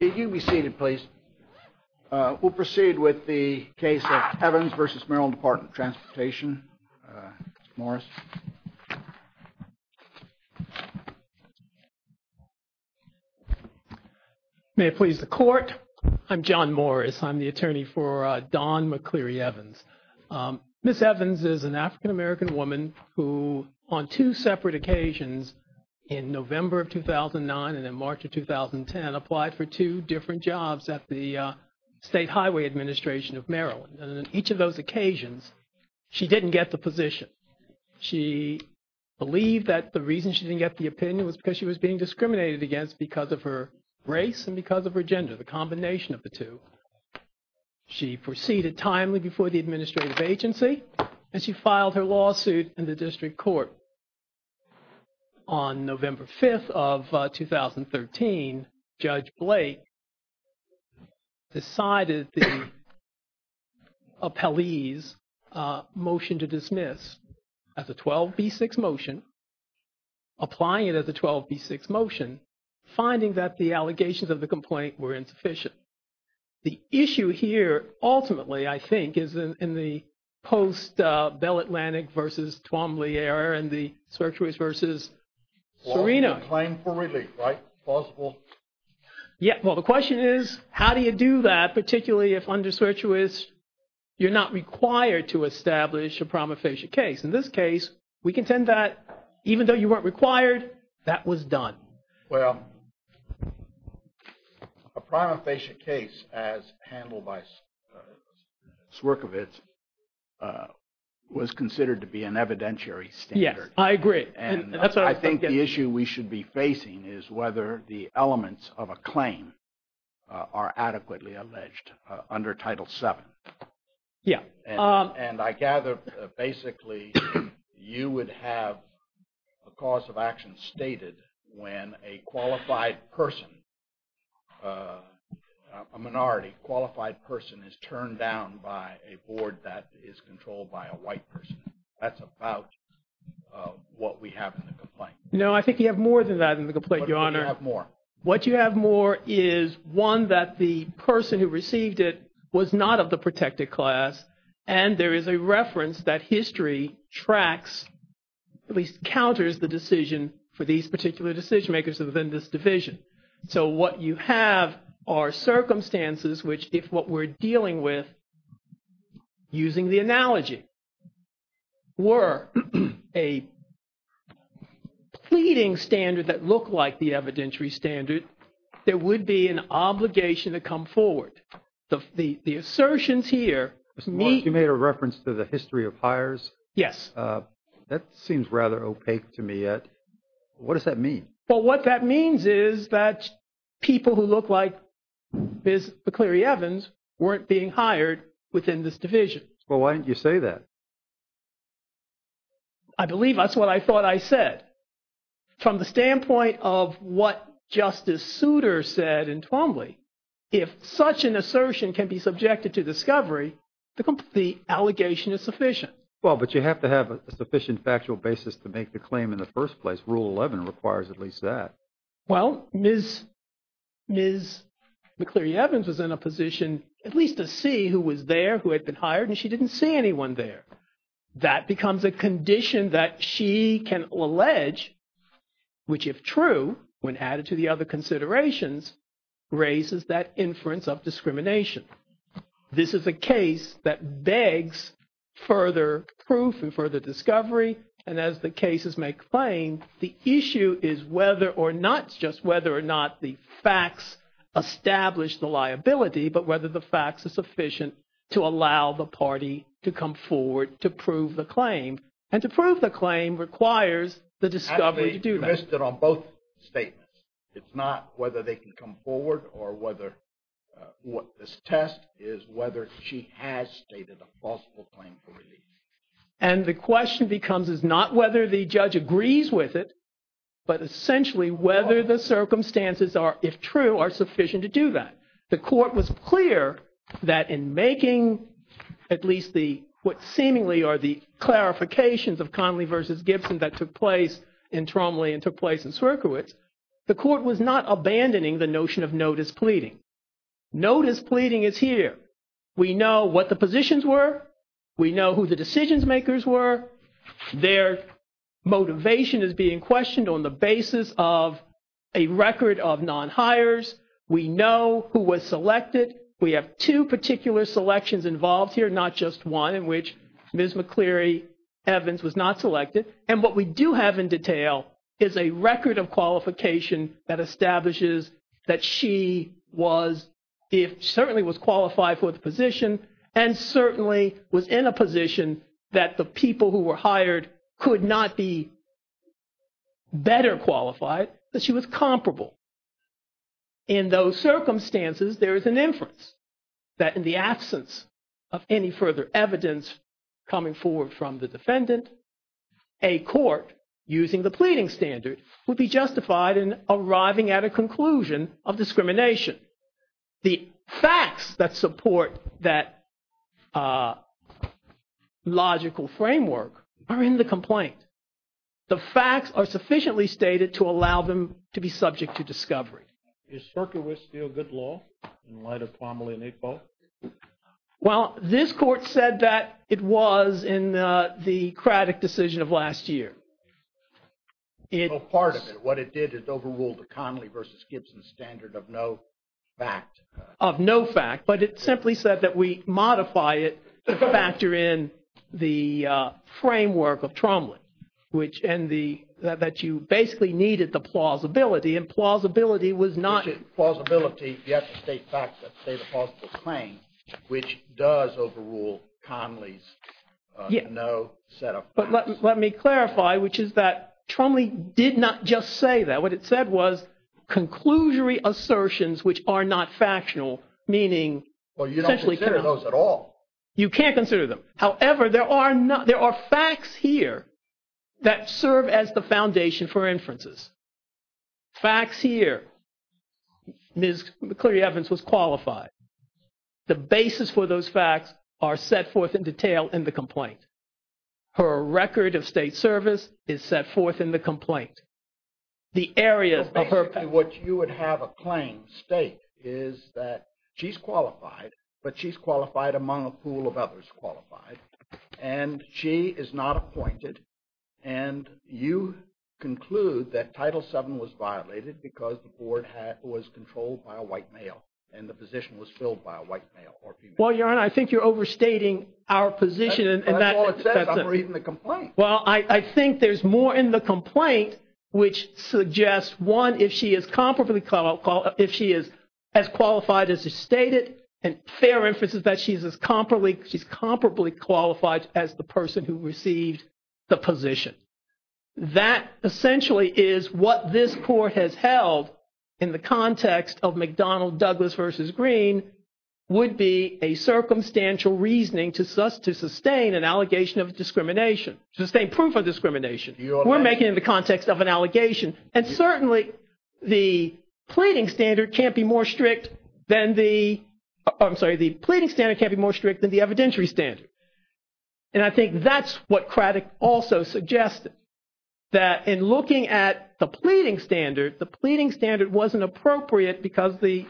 You may be seated, please. We'll proceed with the case of Evans v. Maryland Department of Transportation, Mr. Morris. May it please the Court, I'm John Morris. I'm the attorney for Dawn McCleary-Evans. Ms. Evans is an African-American woman who on two separate occasions in November of 2009 and in March of 2010 applied for two different jobs at the State Highway Administration of Maryland. And on each of those occasions, she didn't get the position. She believed that the reason she didn't get the opinion was because she was being discriminated against because of her race and because of her gender, the combination of the two. She proceeded timely before the administrative agency and she filed her lawsuit in the district court. On November 5th of 2013, Judge Blake decided the appellee's motion to dismiss as a 12B6 motion, applying it as a 12B6 motion, finding that the allegations of the complaint were insufficient. The issue here ultimately, I think, is in the post-Bell Atlantic v. Twombly error and the Sirtuis v. Serino. Claim for relief, right? Possible? Yeah. Well, the question is, how do you do that, particularly if under Sirtuis you're not required to establish a prima facie case? In this case, we contend that even though you weren't required, that was done. Well, a prima facie case as handled by Swerkovitz was considered to be an evidentiary standard. Yes, I agree. And I think the issue we should be facing is whether the elements of a claim are adequately alleged under Title VII. Yeah. And I gather, basically, you would have a cause of action stated when a qualified person, a minority qualified person, is turned down by a board that is controlled by a white person. That's about what we have in the complaint. No, I think you have more than that in the complaint, Your Honor. What do you have more? What you have more is one that the person who received it was not of the protected class. And there is a reference that history tracks, at least counters the decision for these particular decision makers within this division. So what you have are circumstances which if what we're dealing with, using the analogy, were a pleading standard that looked like the evidentiary standard, there would be an obligation to come forward. The assertions here meet. Mr. Morris, you made a reference to the history of hires. Yes. That seems rather opaque to me yet. What does that mean? Well, what that means is that people who look like Ms. McCleary Evans weren't being hired within this division. Well, why didn't you say that? I believe that's what I thought I said. From the standpoint of what Justice Souter said in Twombly, if such an assertion can be subjected to discovery, the allegation is sufficient. Well, but you have to have a sufficient factual basis to make the claim in the first place. Rule 11 requires at least that. Well, Ms. McCleary Evans was in a position at least to see who was there, who had been hired, and she didn't see anyone there. That becomes a condition that she can allege, which if true, when added to the other considerations, raises that inference of discrimination. This is a case that begs further proof and further discovery. And as the cases may claim, the issue is whether or not, it's just whether or not the facts establish the liability, but whether the facts are sufficient to allow the party to come forward to prove the claim. And to prove the claim requires the discovery to do that. I'm interested on both statements. It's not whether they can come forward or whether what this test is whether she has stated a possible claim for release. And the question becomes is not whether the judge agrees with it, but essentially whether the circumstances are, if true, are sufficient to do that. The court was clear that in making at least the what seemingly are the clarifications of Conley v. Gibson that took place in Tromley and took place in Sierkiewicz, the court was not abandoning the notion of notice pleading. Notice pleading is here. We know what the positions were. We know who the decision makers were. Their motivation is being questioned on the basis of a record of non-hires. We know who was selected. We have two particular selections involved here, not just one in which Ms. McCleary Evans was not selected. And what we do have in detail is a record of qualification that establishes that she was if certainly was qualified for the position and certainly was in a position that the people who were hired could not be better qualified, but she was comparable. In those circumstances, there is an inference that in the absence of any further evidence coming forward from the defendant, a court using the pleading standard would be justified in arriving at a conclusion of discrimination. The facts that support that logical framework are in the complaint. The facts are sufficiently stated to allow them to be subject to discovery. Is Sierkiewicz still good law in light of Tromley and Iqbal? Well, this court said that it was in the Craddock decision of last year. Part of it, what it did, it overruled the Connolly versus Gibson standard of no fact. But it simply said that we modify it to factor in the framework of Tromley and that you basically needed the plausibility. And plausibility was not... Which is plausibility if you have to state facts that state a plausible claim, which does overrule Connolly's no set of facts. But let me clarify, which is that Tromley did not just say that. No, what it said was conclusory assertions which are not factional, meaning... Well, you don't consider those at all. You can't consider them. However, there are facts here that serve as the foundation for inferences. Facts here, Ms. McCleary-Evans was qualified. The basis for those facts are set forth in detail in the complaint. Her record of state service is set forth in the complaint. The areas of her... Basically, what you would have a claim state is that she's qualified, but she's qualified among a pool of others qualified. And she is not appointed. And you conclude that Title VII was violated because the board was controlled by a white male and the position was filled by a white male or female. Well, Your Honor, I think you're overstating our position. Well, I think there's more in the complaint which suggests, one, if she is as qualified as is stated, and fair inference is that she's comparably qualified as the person who received the position. That essentially is what this court has held in the context of McDonnell-Douglas v. Green would be a circumstantial reasoning to sustain an allegation of discrimination. To sustain proof of discrimination. We're making it in the context of an allegation. And certainly, the pleading standard can't be more strict than the evidentiary standard. And I think that's what Craddick also suggested, that in looking at the pleading standard, the pleading standard wasn't appropriate because the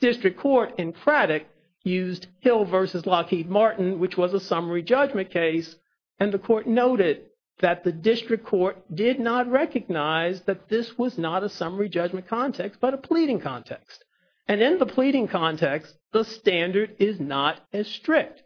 district court in Craddick used Hill v. Lockheed Martin, which was a summary judgment case. And the court noted that the district court did not recognize that this was not a summary judgment context, but a pleading context. And in the pleading context, the standard is not as strict.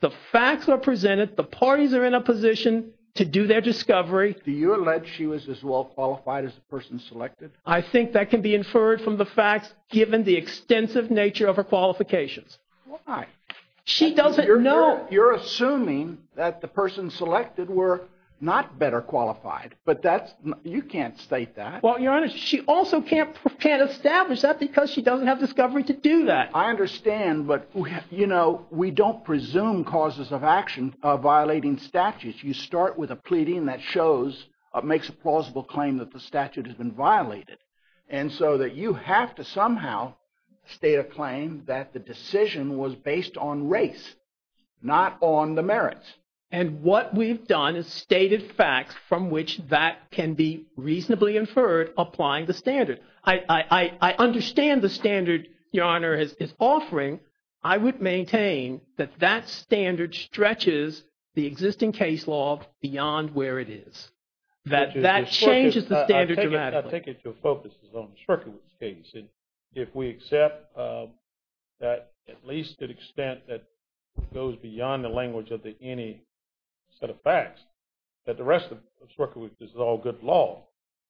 The facts are presented. The parties are in a position to do their discovery. Do you allege she was as well qualified as the person selected? I think that can be inferred from the facts given the extensive nature of her qualifications. Why? She doesn't know. You're assuming that the person selected were not better qualified, but you can't state that. Well, Your Honor, she also can't establish that because she doesn't have discovery to do that. I understand, but we don't presume causes of action of violating statutes. You start with a pleading that makes a plausible claim that the statute has been violated. And so that you have to somehow state a claim that the decision was based on race, not on the merits. And what we've done is stated facts from which that can be reasonably inferred applying the standard. I understand the standard Your Honor is offering. I would maintain that that standard stretches the existing case law beyond where it is, that that changes the standard dramatically. I take it your focus is on the Shrucker case. And if we accept that at least to the extent that goes beyond the language of any set of facts, that the rest of Shrucker is all good law.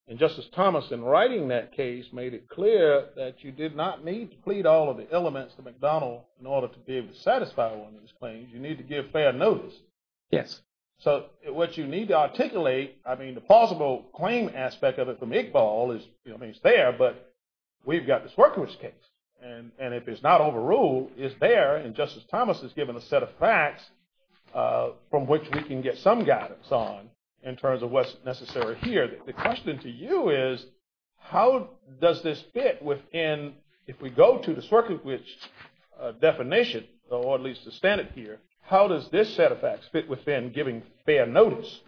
And Justice Thomas, in writing that case, made it clear that you did not need to plead all of the elements to McDonnell in order to be able to satisfy one of his claims. You need to give fair notice. Yes. So what you need to articulate, I mean, the plausible claim aspect of it from Iqbal is there, but we've got the Shrucker case. And if it's not overruled, it's there. And Justice Thomas has given a set of facts from which we can get some guidance on in terms of what's necessary here. The question to you is how does this fit within, if we go to the Shrucker definition, or at least the standard here, how does this set of facts fit within giving fair notice?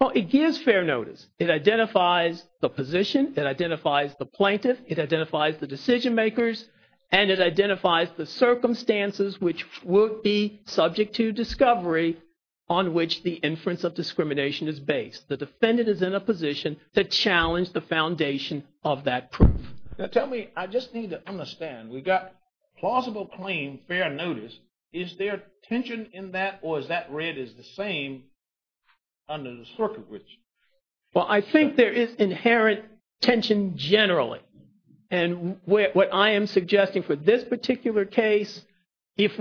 Well, it gives fair notice. It identifies the position. It identifies the plaintiff. It identifies the decision-makers. And it identifies the circumstances which would be subject to discovery on which the inference of discrimination is based. The defendant is in a position to challenge the foundation of that proof. Tell me, I just need to understand. We've got plausible claim, fair notice. Is there tension in that or is that read as the same under the Shrucker bridge? Well, I think there is inherent tension generally. And what I am suggesting for this particular case, if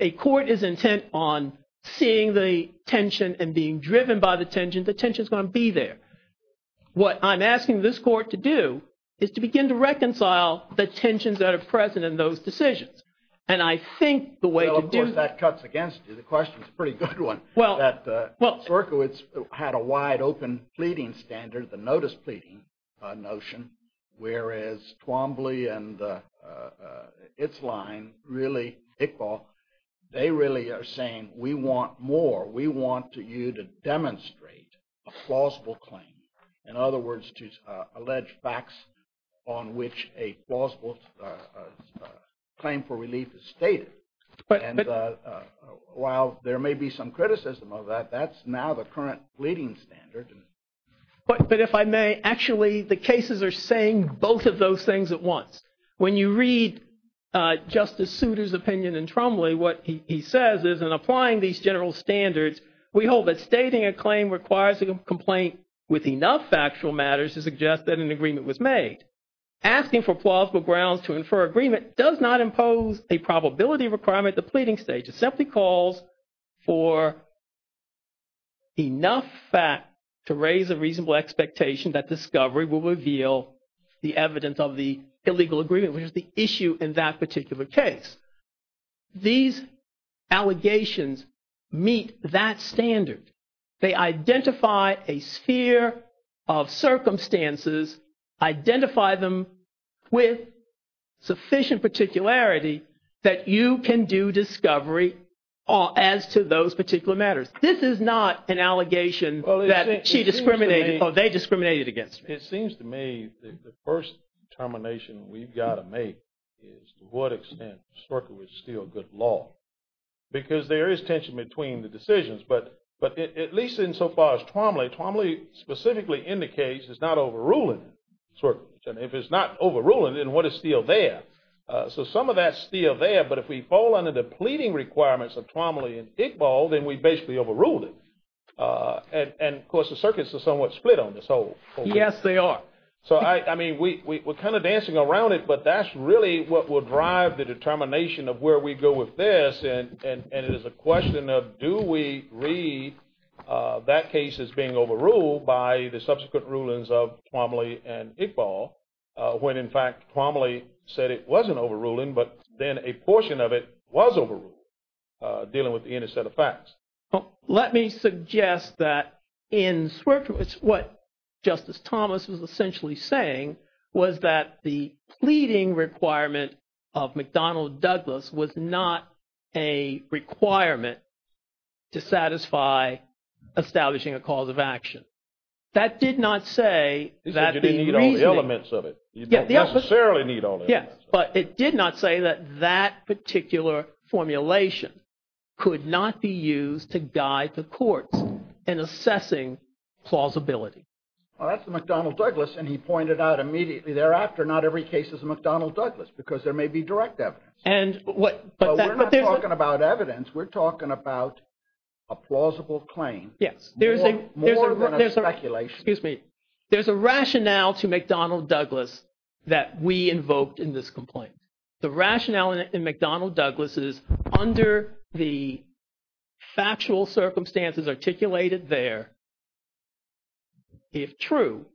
a court is intent on seeing the tension and being driven by the tension, the tension is going to be there. What I'm asking this court to do is to begin to reconcile the tensions that are present in those decisions. And I think the way to do it… Well, of course, that cuts against you. The question is a pretty good one. Well, Shruckowitz had a wide open pleading standard, the notice pleading notion, whereas Twombly and its line, really Iqbal, they really are saying we want more. We want you to demonstrate a plausible claim. In other words, to allege facts on which a plausible claim for relief is stated. And while there may be some criticism of that, that's now the current pleading standard. But if I may, actually the cases are saying both of those things at once. When you read Justice Souter's opinion in Twombly, what he says is in applying these general standards, we hold that stating a claim requires a complaint with enough factual matters to suggest that an agreement was made. Asking for plausible grounds to infer agreement does not impose a probability requirement at the pleading stage. It simply calls for enough fact to raise a reasonable expectation that discovery will reveal the evidence of the illegal agreement, which is the issue in that particular case. These allegations meet that standard. They identify a sphere of circumstances, identify them with sufficient particularity that you can do discovery as to those particular matters. This is not an allegation that she discriminated or they discriminated against me. It seems to me the first determination we've got to make is to what extent Swerkiewicz is still good law. Because there is tension between the decisions. But at least in so far as Twombly, Twombly specifically indicates it's not overruling Swerkiewicz. And if it's not overruling, then what is still there? So some of that's still there. But if we fall under the pleading requirements of Twombly and Iqbal, then we basically overruled it. And of course the circuits are somewhat split on this whole thing. Yes, they are. So, I mean, we're kind of dancing around it, but that's really what will drive the determination of where we go with this. And it is a question of do we read that case as being overruled by the subsequent rulings of Twombly and Iqbal, when in fact Twombly said it wasn't overruling, but then a portion of it was overruled, dealing with the inner set of facts. Let me suggest that in Swerkiewicz, what Justice Thomas was essentially saying was that the pleading requirement of McDonnell-Douglas was not a requirement to satisfy establishing a cause of action. That did not say that the reasoning... He said you didn't need all the elements of it. You don't necessarily need all the elements of it. But it did not say that that particular formulation could not be used to guide the courts in assessing plausibility. Well, that's the McDonnell-Douglas, and he pointed out immediately thereafter not every case is a McDonnell-Douglas because there may be direct evidence. But we're not talking about evidence. We're talking about a plausible claim. Yes. More than a speculation. Excuse me. There's a rationale to McDonnell-Douglas that we invoked in this complaint. The rationale in McDonnell-Douglas is under the factual circumstances articulated there, if true,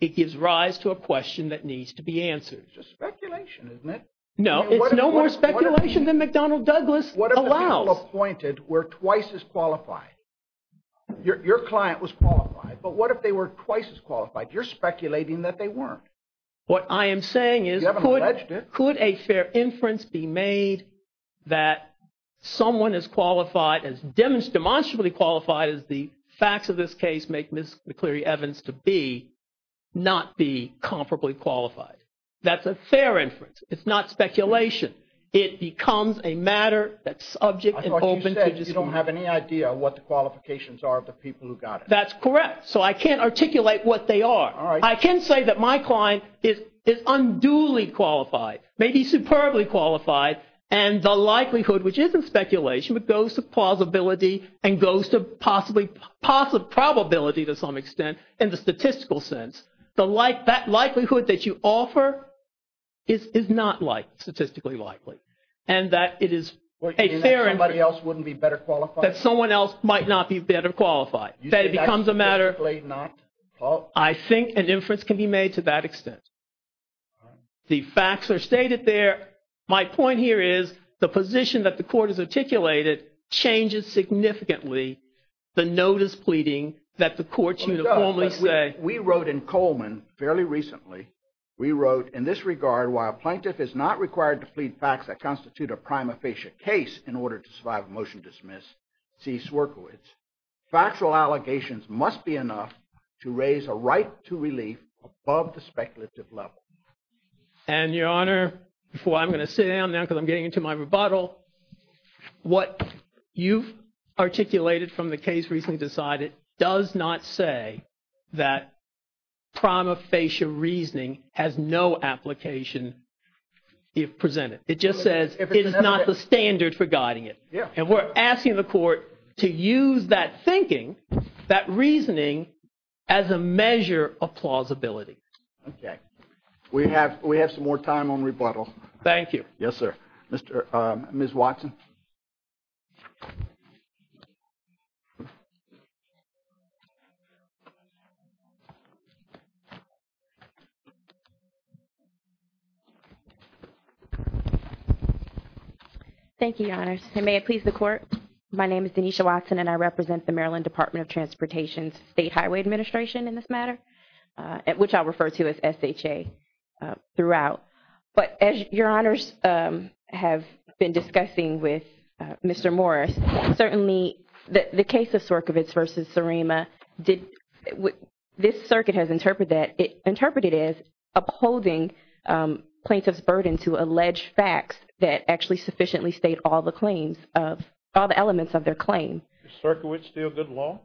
it gives rise to a question that needs to be answered. It's just speculation, isn't it? No. It's no more speculation than McDonnell-Douglas allows. The people appointed were twice as qualified. Your client was qualified. But what if they were twice as qualified? You're speculating that they weren't. What I am saying is could a fair inference be made that someone as qualified, as demonstrably qualified as the facts of this case make Ms. McCleary-Evans to be, not be comparably qualified? That's a fair inference. It's not speculation. It becomes a matter that's subject and open to dispute. I thought you said you don't have any idea what the qualifications are of the people who got it. That's correct. So I can't articulate what they are. All right. I can say that my client is unduly qualified, maybe superbly qualified, and the likelihood, which isn't speculation, but goes to plausibility and goes to possibly – possibility to some extent in the statistical sense. That likelihood that you offer is not statistically likely. And that it is a fair inference. What, you mean that somebody else wouldn't be better qualified? That someone else might not be better qualified. You say that's statistically not? I think an inference can be made to that extent. The facts are stated there. My point here is the position that the court has articulated changes significantly the notice pleading that the courts uniformly say – that we wrote in Coleman fairly recently. We wrote, in this regard, while a plaintiff is not required to plead facts that constitute a prima facie case in order to survive a motion to dismiss C. Swierkowicz, factual allegations must be enough to raise a right to relief above the speculative level. And, Your Honor, before I'm going to sit down now because I'm getting into my rebuttal, what you've articulated from the case recently decided does not say that prima facie reasoning has no application if presented. It just says it is not the standard for guiding it. And we're asking the court to use that thinking, that reasoning, as a measure of plausibility. Okay. We have some more time on rebuttal. Thank you. Yes, sir. Ms. Watson. Thank you, Your Honor. And may it please the court, my name is Denisha Watson and I represent the Maryland Department of Transportation's State Highway Administration in this matter, which I'll refer to as SHA throughout. But as Your Honors have been discussing with Mr. Morris, certainly the case of Swierkowicz v. Surima, this circuit has interpreted it as upholding plaintiff's burden to allege facts that actually sufficiently state all the claims, all the elements of their claim. Is Swierkowicz still good law?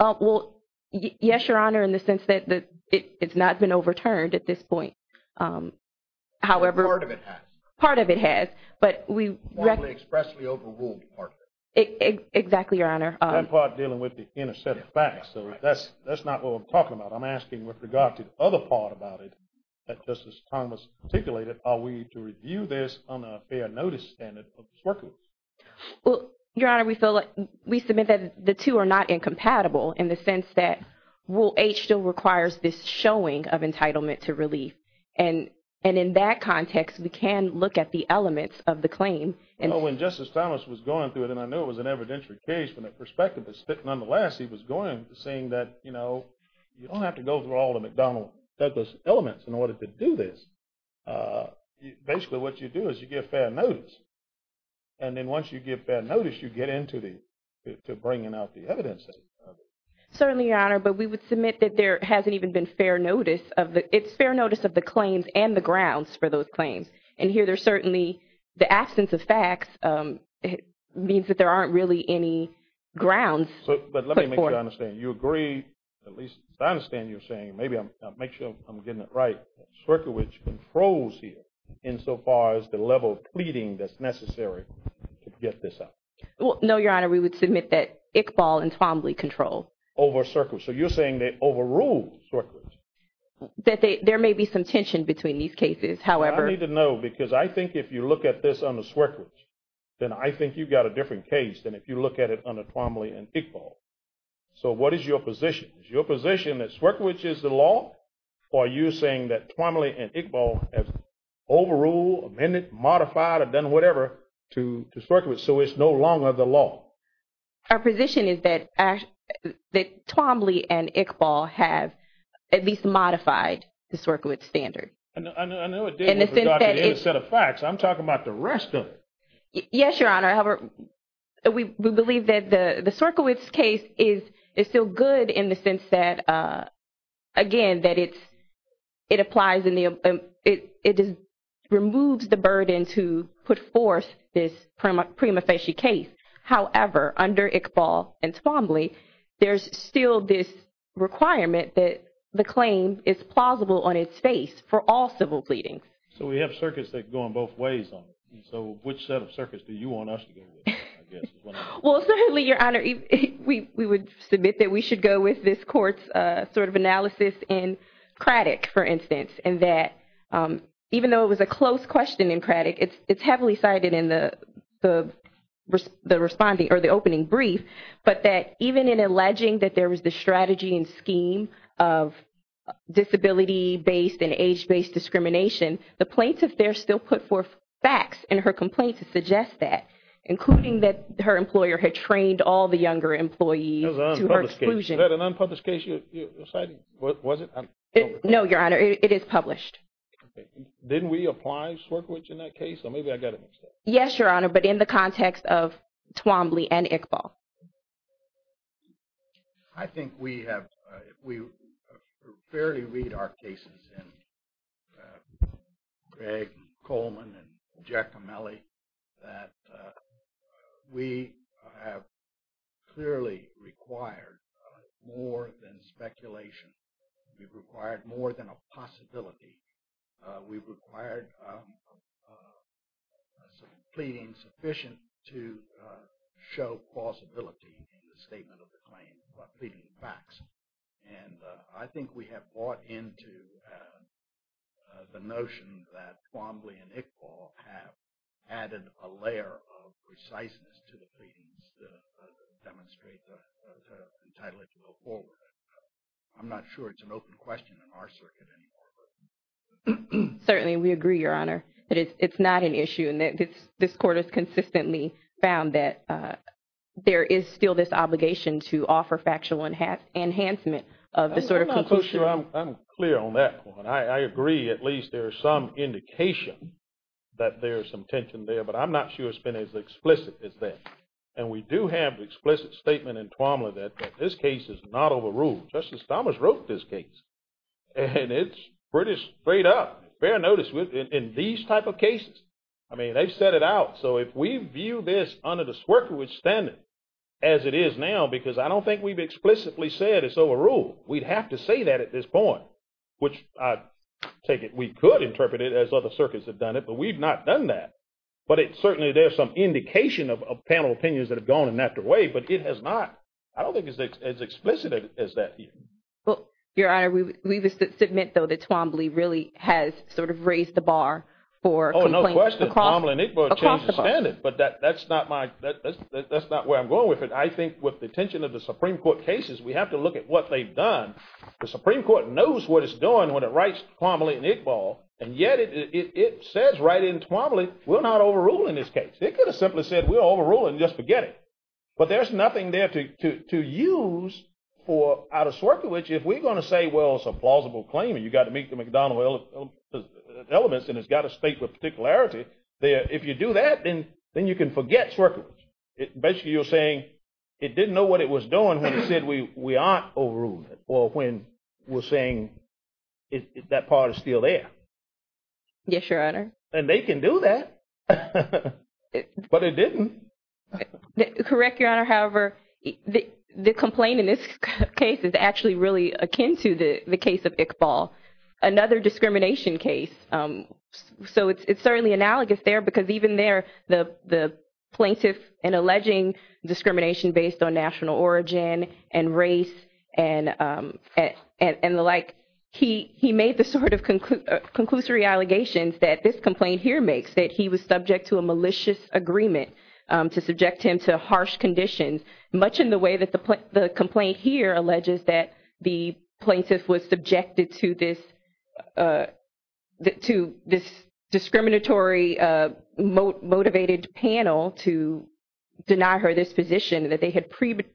Well, yes, Your Honor, in the sense that it's not been overturned at this point. However… Part of it has. Part of it has. But we… Partly expressly overruled part of it. Exactly, Your Honor. That part dealing with the inner set of facts. So that's not what we're talking about. I'm asking with regard to the other part about it that Justice Thomas articulated, are we to review this on a fair notice standard of Swierkowicz? Well, Your Honor, we submit that the two are not incompatible in the sense that Rule 8 still requires this showing of entitlement to relief. And in that context, we can look at the elements of the claim. Well, when Justice Thomas was going through it, and I know it was an evidentiary case, from the perspective of Spitton, nonetheless, he was going, saying that, you know, you don't have to go through all the McDonnell Douglas elements in order to do this. Basically, what you do is you give fair notice. And then once you give fair notice, you get into bringing out the evidence. Certainly, Your Honor, but we would submit that there hasn't even been fair notice of the – it's fair notice of the claims and the grounds for those claims. And here there's certainly the absence of facts means that there aren't really any grounds. At least I understand you're saying, maybe I'll make sure I'm getting it right, that Swierkowicz controls here insofar as the level of pleading that's necessary to get this out. Well, no, Your Honor, we would submit that Iqbal and Twombly control. Over Swierkowicz. So you're saying they overrule Swierkowicz. That there may be some tension between these cases, however. Well, I need to know because I think if you look at this under Swierkowicz, then I think you've got a different case than if you look at it under Twombly and Iqbal. So what is your position? Is your position that Swierkowicz is the law? Or are you saying that Twombly and Iqbal have overruled, amended, modified, or done whatever to Swierkowicz so it's no longer the law? Our position is that Twombly and Iqbal have at least modified the Swierkowicz standard. I know it didn't without the end of the set of facts. I'm talking about the rest of it. Yes, Your Honor. However, we believe that the Swierkowicz case is still good in the sense that, again, that it applies and it removes the burden to put forth this prima facie case. However, under Iqbal and Twombly, there's still this requirement that the claim is plausible on its face for all civil pleadings. So we have circuits that go in both ways on it. So which set of circuits do you want us to go with? Well, certainly, Your Honor, we would submit that we should go with this Court's sort of analysis in Craddock, for instance, in that even though it was a close question in Craddock, it's heavily cited in the opening brief, but that even in alleging that there was the strategy and scheme of disability-based and age-based discrimination, the plaintiff there still put forth facts in her complaint to suggest that, including that her employer had trained all the younger employees to her exclusion. Is that an unpublished case you're citing? Was it? No, Your Honor. It is published. Didn't we apply Swierkowicz in that case? Or maybe I got it mixed up. Yes, Your Honor, but in the context of Twombly and Iqbal. I think we have – we fairly read our cases in Gregg, Coleman, and Giacomelli that we have clearly required more than speculation. We've required more than a possibility. We've required some pleading sufficient to show plausibility in the statement of the claim by pleading the facts. And I think we have bought into the notion that Twombly and Iqbal have added a layer of preciseness to the pleadings to demonstrate the entitlement to go forward. I'm not sure it's an open question in our circuit anymore. Certainly, we agree, Your Honor, that it's not an issue. And this Court has consistently found that there is still this obligation to offer factual enhancement of this sort of conclusion. I'm not so sure I'm clear on that one. I agree at least there is some indication that there is some tension there, but I'm not sure it's been as explicit as that. And we do have the explicit statement in Twombly that this case is not overruled. Justice Thomas wrote this case, and it's pretty straight up. Bear notice in these type of cases. I mean, they've set it out. So if we view this under the Swerkerwood standard as it is now, because I don't think we've explicitly said it's overruled, we'd have to say that at this point, which I take it we could interpret it as other circuits have done it, but we've not done that. But certainly there's some indication of panel opinions that have gone in that way, but it has not – I don't think it's as explicit as that here. Well, Your Honor, we would submit, though, that Twombly really has sort of raised the bar for complaints across the board. Oh, no question. Twombly and Iqbal have changed the standard, but that's not my – that's not where I'm going with it. I think with the attention of the Supreme Court cases, we have to look at what they've done. The Supreme Court knows what it's doing when it writes Twombly and Iqbal, and yet it says right in Twombly, we're not overruling this case. It could have simply said we're overruling, just forget it. But there's nothing there to use for – out of Swerkerwood, if we're going to say, well, it's a plausible claim and you've got to meet the McDonnell elements and it's got to state with particularity, if you do that, then you can forget Swerkerwood. Basically, you're saying it didn't know what it was doing when it said we aren't overruling it or when we're saying that part is still there. Yes, Your Honor. And they can do that, but it didn't. Correct, Your Honor. However, the complaint in this case is actually really akin to the case of Iqbal, another discrimination case. It's certainly analogous there because even there, the plaintiff in alleging discrimination based on national origin and race and the like, he made the sort of conclusory allegations that this complaint here makes, that he was subject to a malicious agreement to subject him to harsh conditions, much in the way that the complaint here alleges that the plaintiff was subjected to this discriminatory motivated panel to deny her this position, that they had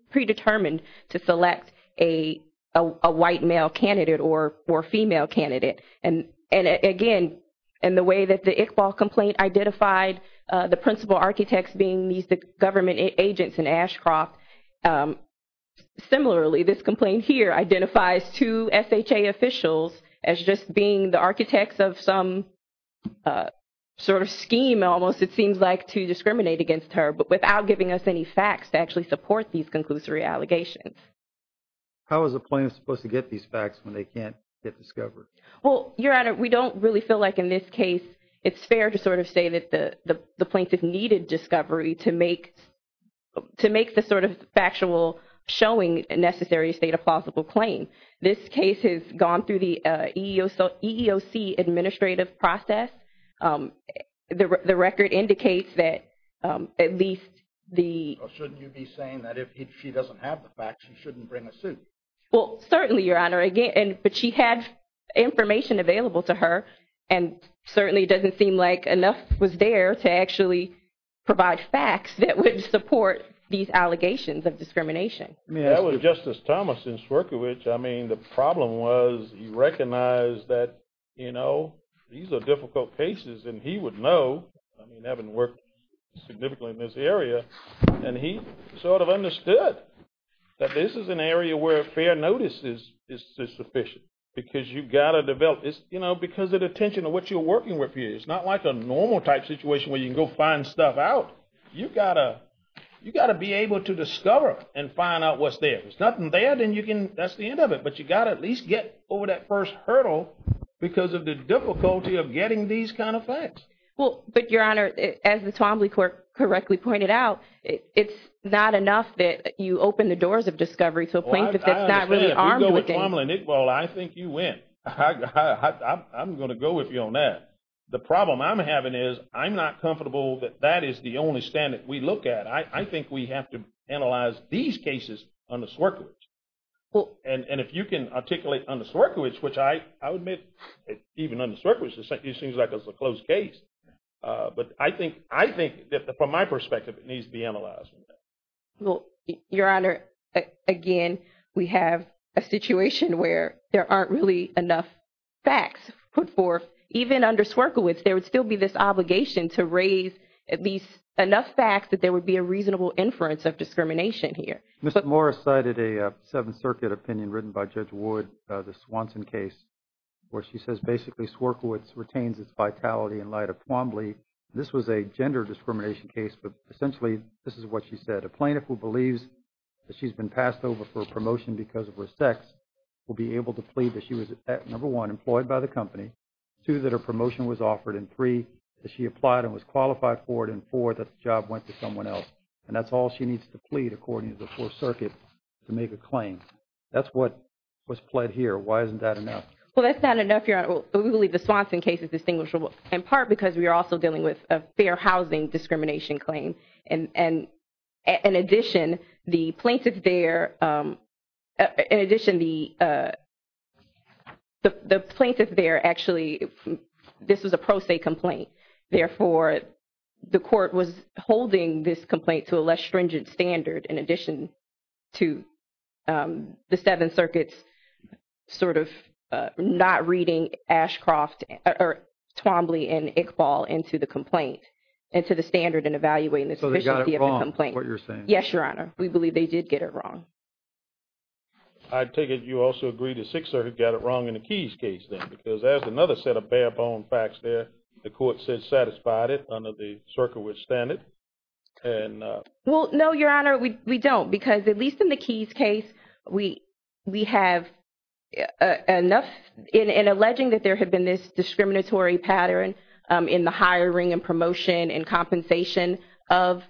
predetermined to select a white male candidate or female candidate. And again, in the way that the Iqbal complaint identified the principal architects being these government agents in Ashcroft, similarly, this complaint here identifies two SHA officials as just being the architects of some sort of scheme almost, it seems like, to discriminate against her but without giving us any facts to actually support these conclusory allegations. How is a plaintiff supposed to get these facts when they can't get discovered? Well, Your Honor, we don't really feel like in this case it's fair to sort of say that the plaintiff needed discovery to make the sort of factual showing a necessary state of plausible claim. This case has gone through the EEOC administrative process. The record indicates that at least the… Or shouldn't you be saying that if she doesn't have the facts, she shouldn't bring a suit? Well, certainly, Your Honor. But she had information available to her, and certainly it doesn't seem like enough was there to actually provide facts that would support these allegations of discrimination. I mean, that was Justice Thomas in Swerkiewicz. I mean, the problem was he recognized that, you know, these are difficult cases, and he would know, I mean, having worked significantly in this area, and he sort of understood that this is an area where fair notice is sufficient because you've got to develop this, you know, because of the tension of what you're working with here. It's not like a normal type situation where you can go find stuff out. You've got to be able to discover and find out what's there. If there's nothing there, then you can…that's the end of it. But you've got to at least get over that first hurdle because of the difficulty of getting these kind of facts. Well, but, Your Honor, as the Twombly Court correctly pointed out, it's not enough that you open the doors of discovery to a plaintiff that's not really armed with data. Well, I think you win. I'm going to go with you on that. The problem I'm having is I'm not comfortable that that is the only stand that we look at. I think we have to analyze these cases under Swerkiewicz. And if you can articulate under Swerkiewicz, which I would admit, even under Swerkiewicz, it seems like it's a closed case. But I think that from my perspective, it needs to be analyzed. Well, Your Honor, again, we have a situation where there aren't really enough facts put forth. Even under Swerkiewicz, there would still be this obligation to raise at least enough facts that there would be a reasonable inference of discrimination here. Mr. Morris cited a Seventh Circuit opinion written by Judge Wood, the Swanson case, where she says basically Swerkiewicz retains its vitality in light of Twombly. This was a gender discrimination case, but essentially this is what she said. A plaintiff who believes that she's been passed over for a promotion because of her sex will be able to plead that she was, number one, employed by the company, two, that her promotion was offered, and three, that she applied and was qualified for it, and four, that the job went to someone else. And that's all she needs to plead according to the Fourth Circuit to make a claim. That's what was pled here. Why isn't that enough? Well, that's not enough, Your Honor. We believe the Swanson case is distinguishable in part because we are also dealing with a fair housing discrimination claim. And in addition, the plaintiff there – in addition, the plaintiff there actually – this was a pro se complaint. And therefore, the court was holding this complaint to a less stringent standard in addition to the Seventh Circuit's sort of not reading Ashcroft or Twombly and Iqbal into the complaint and to the standard in evaluating the efficiency of the complaint. So they got it wrong, is what you're saying? Yes, Your Honor. We believe they did get it wrong. I take it you also agree to Sixer who got it wrong in the Keyes case, then, because there's another set of bare-bone facts there. The court said satisfied it under the Cerkiewicz standard. Well, no, Your Honor, we don't. Because at least in the Keyes case, we have enough – in alleging that there had been this discriminatory pattern in the hiring and promotion and compensation of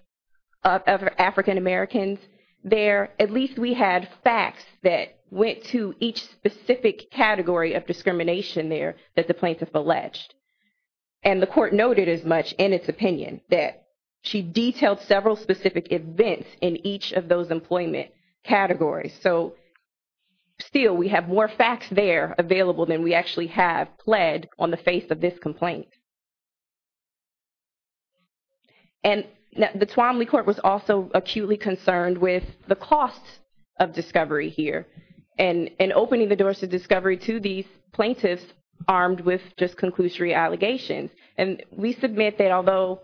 African-Americans there, at least we had facts that went to each specific category of discrimination there that the plaintiff alleged. And the court noted as much in its opinion that she detailed several specific events in each of those employment categories. So still, we have more facts there available than we actually have pled on the face of this complaint. And the Twombly court was also acutely concerned with the cost of discovery here. And opening the doors to discovery to these plaintiffs armed with just conclusory allegations. And we submit that although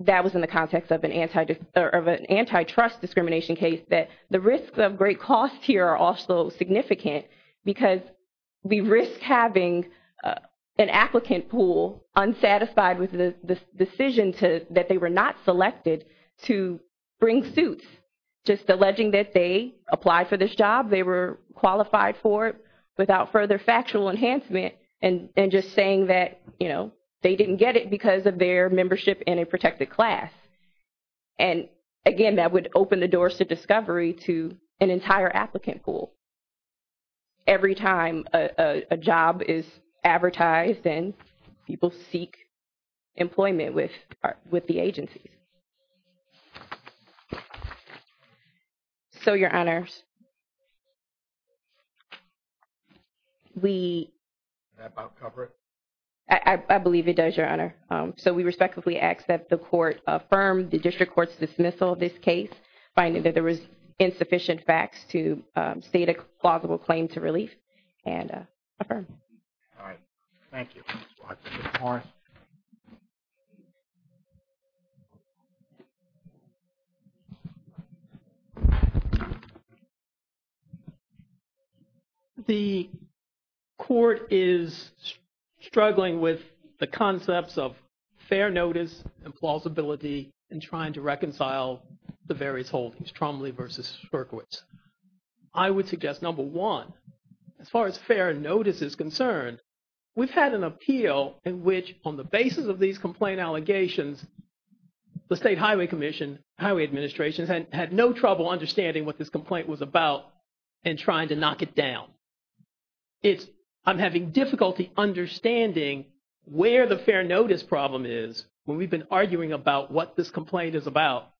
that was in the context of an antitrust discrimination case, that the risks of great cost here are also significant. Because we risk having an applicant pool unsatisfied with the decision that they were not selected to bring suits. Just alleging that they applied for this job, they were qualified for it without further factual enhancement, and just saying that, you know, they didn't get it because of their membership in a protected class. And again, that would open the doors to discovery to an entire applicant pool. Every time a job is advertised and people seek employment with the agencies. So, your honors, we... Did that about cover it? I believe it does, your honor. So, we respectfully ask that the court affirm the district court's dismissal of this case, finding that there was insufficient facts to state a plausible claim to relief, and affirm. All right. Thank you. All right. The court is struggling with the concepts of fair notice and plausibility in trying to reconcile the various holdings, Trombley versus Berkowitz. I would suggest, number one, as far as fair notice is concerned, we've had an appeal in which on the basis of these complaint allegations, the State Highway Commission, Highway Administration had no trouble understanding what this complaint was about and trying to knock it down. I'm having difficulty understanding where the fair notice problem is when we've been arguing about what this complaint is about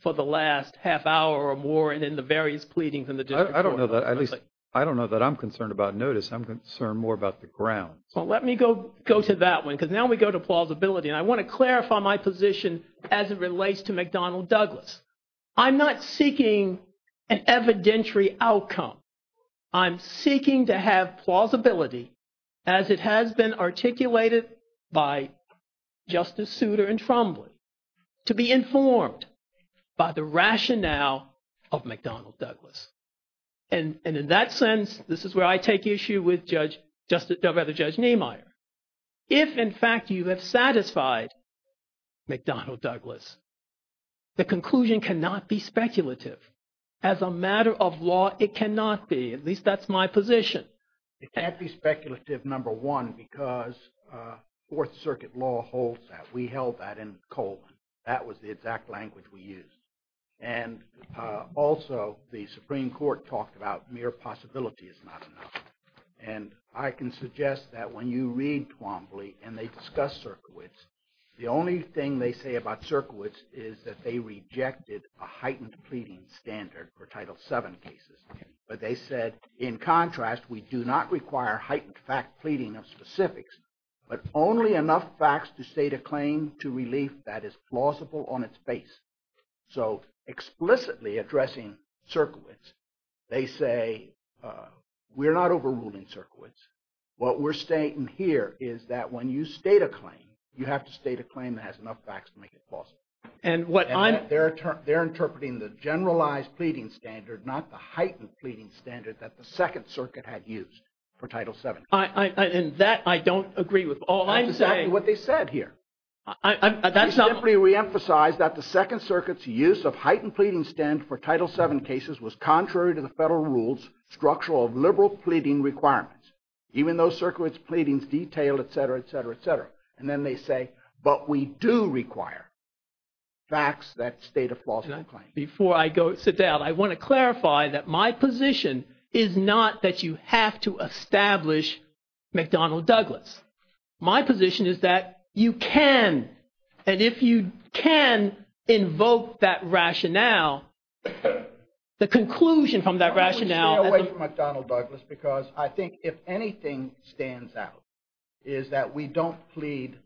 for the last half hour or more and in the various pleadings in the district court. I don't know that I'm concerned about notice. I'm concerned more about the ground. Well, let me go to that one because now we go to plausibility. And I want to clarify my position as it relates to McDonnell Douglas. I'm not seeking an evidentiary outcome. I'm seeking to have plausibility as it has been articulated by Justice Souter and Trombley to be informed by the rationale of McDonnell Douglas. And in that sense, this is where I take issue with Judge – rather, Judge Niemeyer. If, in fact, you have satisfied McDonnell Douglas, the conclusion cannot be speculative. As a matter of law, it cannot be. At least that's my position. It can't be speculative, number one, because Fourth Circuit law holds that. We held that in Coleman. That was the exact language we used. And also, the Supreme Court talked about mere possibility is not enough. And I can suggest that when you read Trombley and they discuss Sirkowitz, the only thing they say about Sirkowitz is that they rejected a heightened pleading standard for Title VII cases. But they said, in contrast, we do not require heightened fact pleading of specifics, but only enough facts to state a claim to relief that is plausible on its base. So explicitly addressing Sirkowitz, they say we're not overruling Sirkowitz. What we're stating here is that when you state a claim, you have to state a claim that has enough facts to make it plausible. They're interpreting the generalized pleading standard, not the heightened pleading standard, that the Second Circuit had used for Title VII. And that I don't agree with. That's exactly what they said here. They simply reemphasized that the Second Circuit's use of heightened pleading standard for Title VII cases was contrary to the federal rules structural of liberal pleading requirements, even though Sirkowitz's pleadings detailed, et cetera, et cetera, et cetera. And then they say, but we do require facts that state a plausible claim. Before I go sit down, I want to clarify that my position is not that you have to establish McDonnell-Douglas. My position is that you can, and if you can, invoke that rationale, the conclusion from that rationale. Stay away from McDonnell-Douglas, because I think if anything stands out, is that we don't plead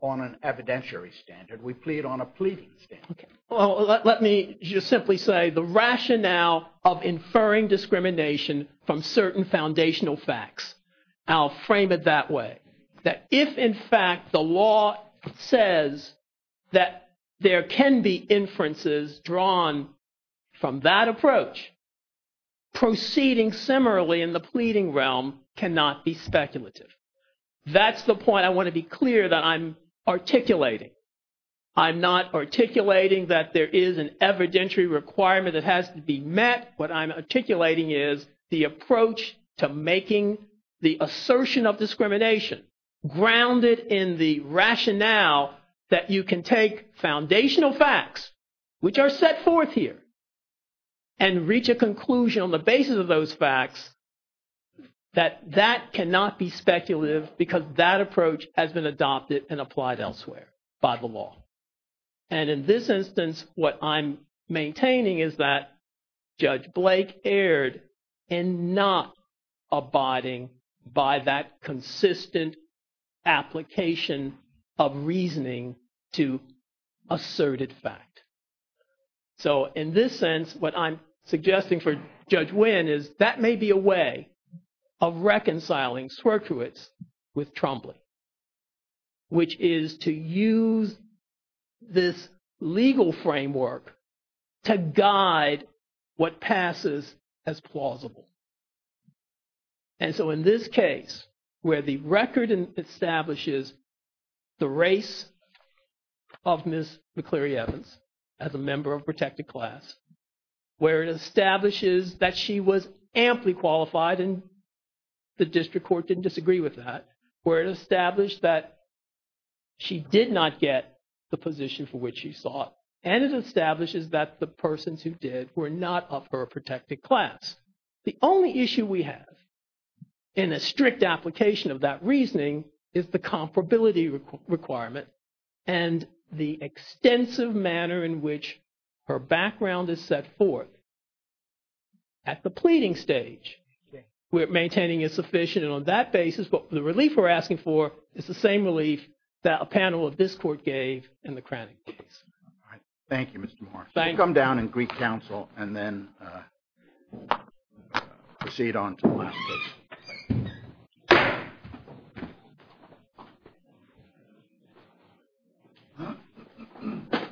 on an evidentiary standard. We plead on a pleading standard. Well, let me just simply say the rationale of inferring discrimination from certain foundational facts, I'll frame it that way. That if, in fact, the law says that there can be inferences drawn from that approach, proceeding similarly in the pleading realm cannot be speculative. That's the point I want to be clear that I'm articulating. I'm not articulating that there is an evidentiary requirement that has to be met. What I'm articulating is the approach to making the assertion of discrimination grounded in the rationale that you can take foundational facts, which are set forth here, and reach a conclusion on the basis of those facts, that that cannot be speculative because that approach has been adopted and applied elsewhere by the law. And in this instance, what I'm maintaining is that Judge Blake erred in not abiding by that consistent application of reasoning to asserted fact. So in this sense, what I'm suggesting for Judge Winn is that may be a way of reconciling Swerczewicz with Trombley, which is to use this legal framework to guide what passes as plausible. And so in this case, where the record establishes the race of Ms. McCleary Evans as a member of protected class, where it establishes that she was amply qualified and the district court didn't disagree with that, where it established that she did not get the position for which she sought, and it establishes that the persons who did were not of her protected class. The only issue we have in a strict application of that reasoning is the comparability requirement and the extensive manner in which her background is set forth at the pleading stage. What we're maintaining is sufficient on that basis. But the relief we're asking for is the same relief that a panel of this court gave in the Kranich case. Thank you, Mr. Moore. Thank you. We'll come down and greet counsel and then proceed on to the last case.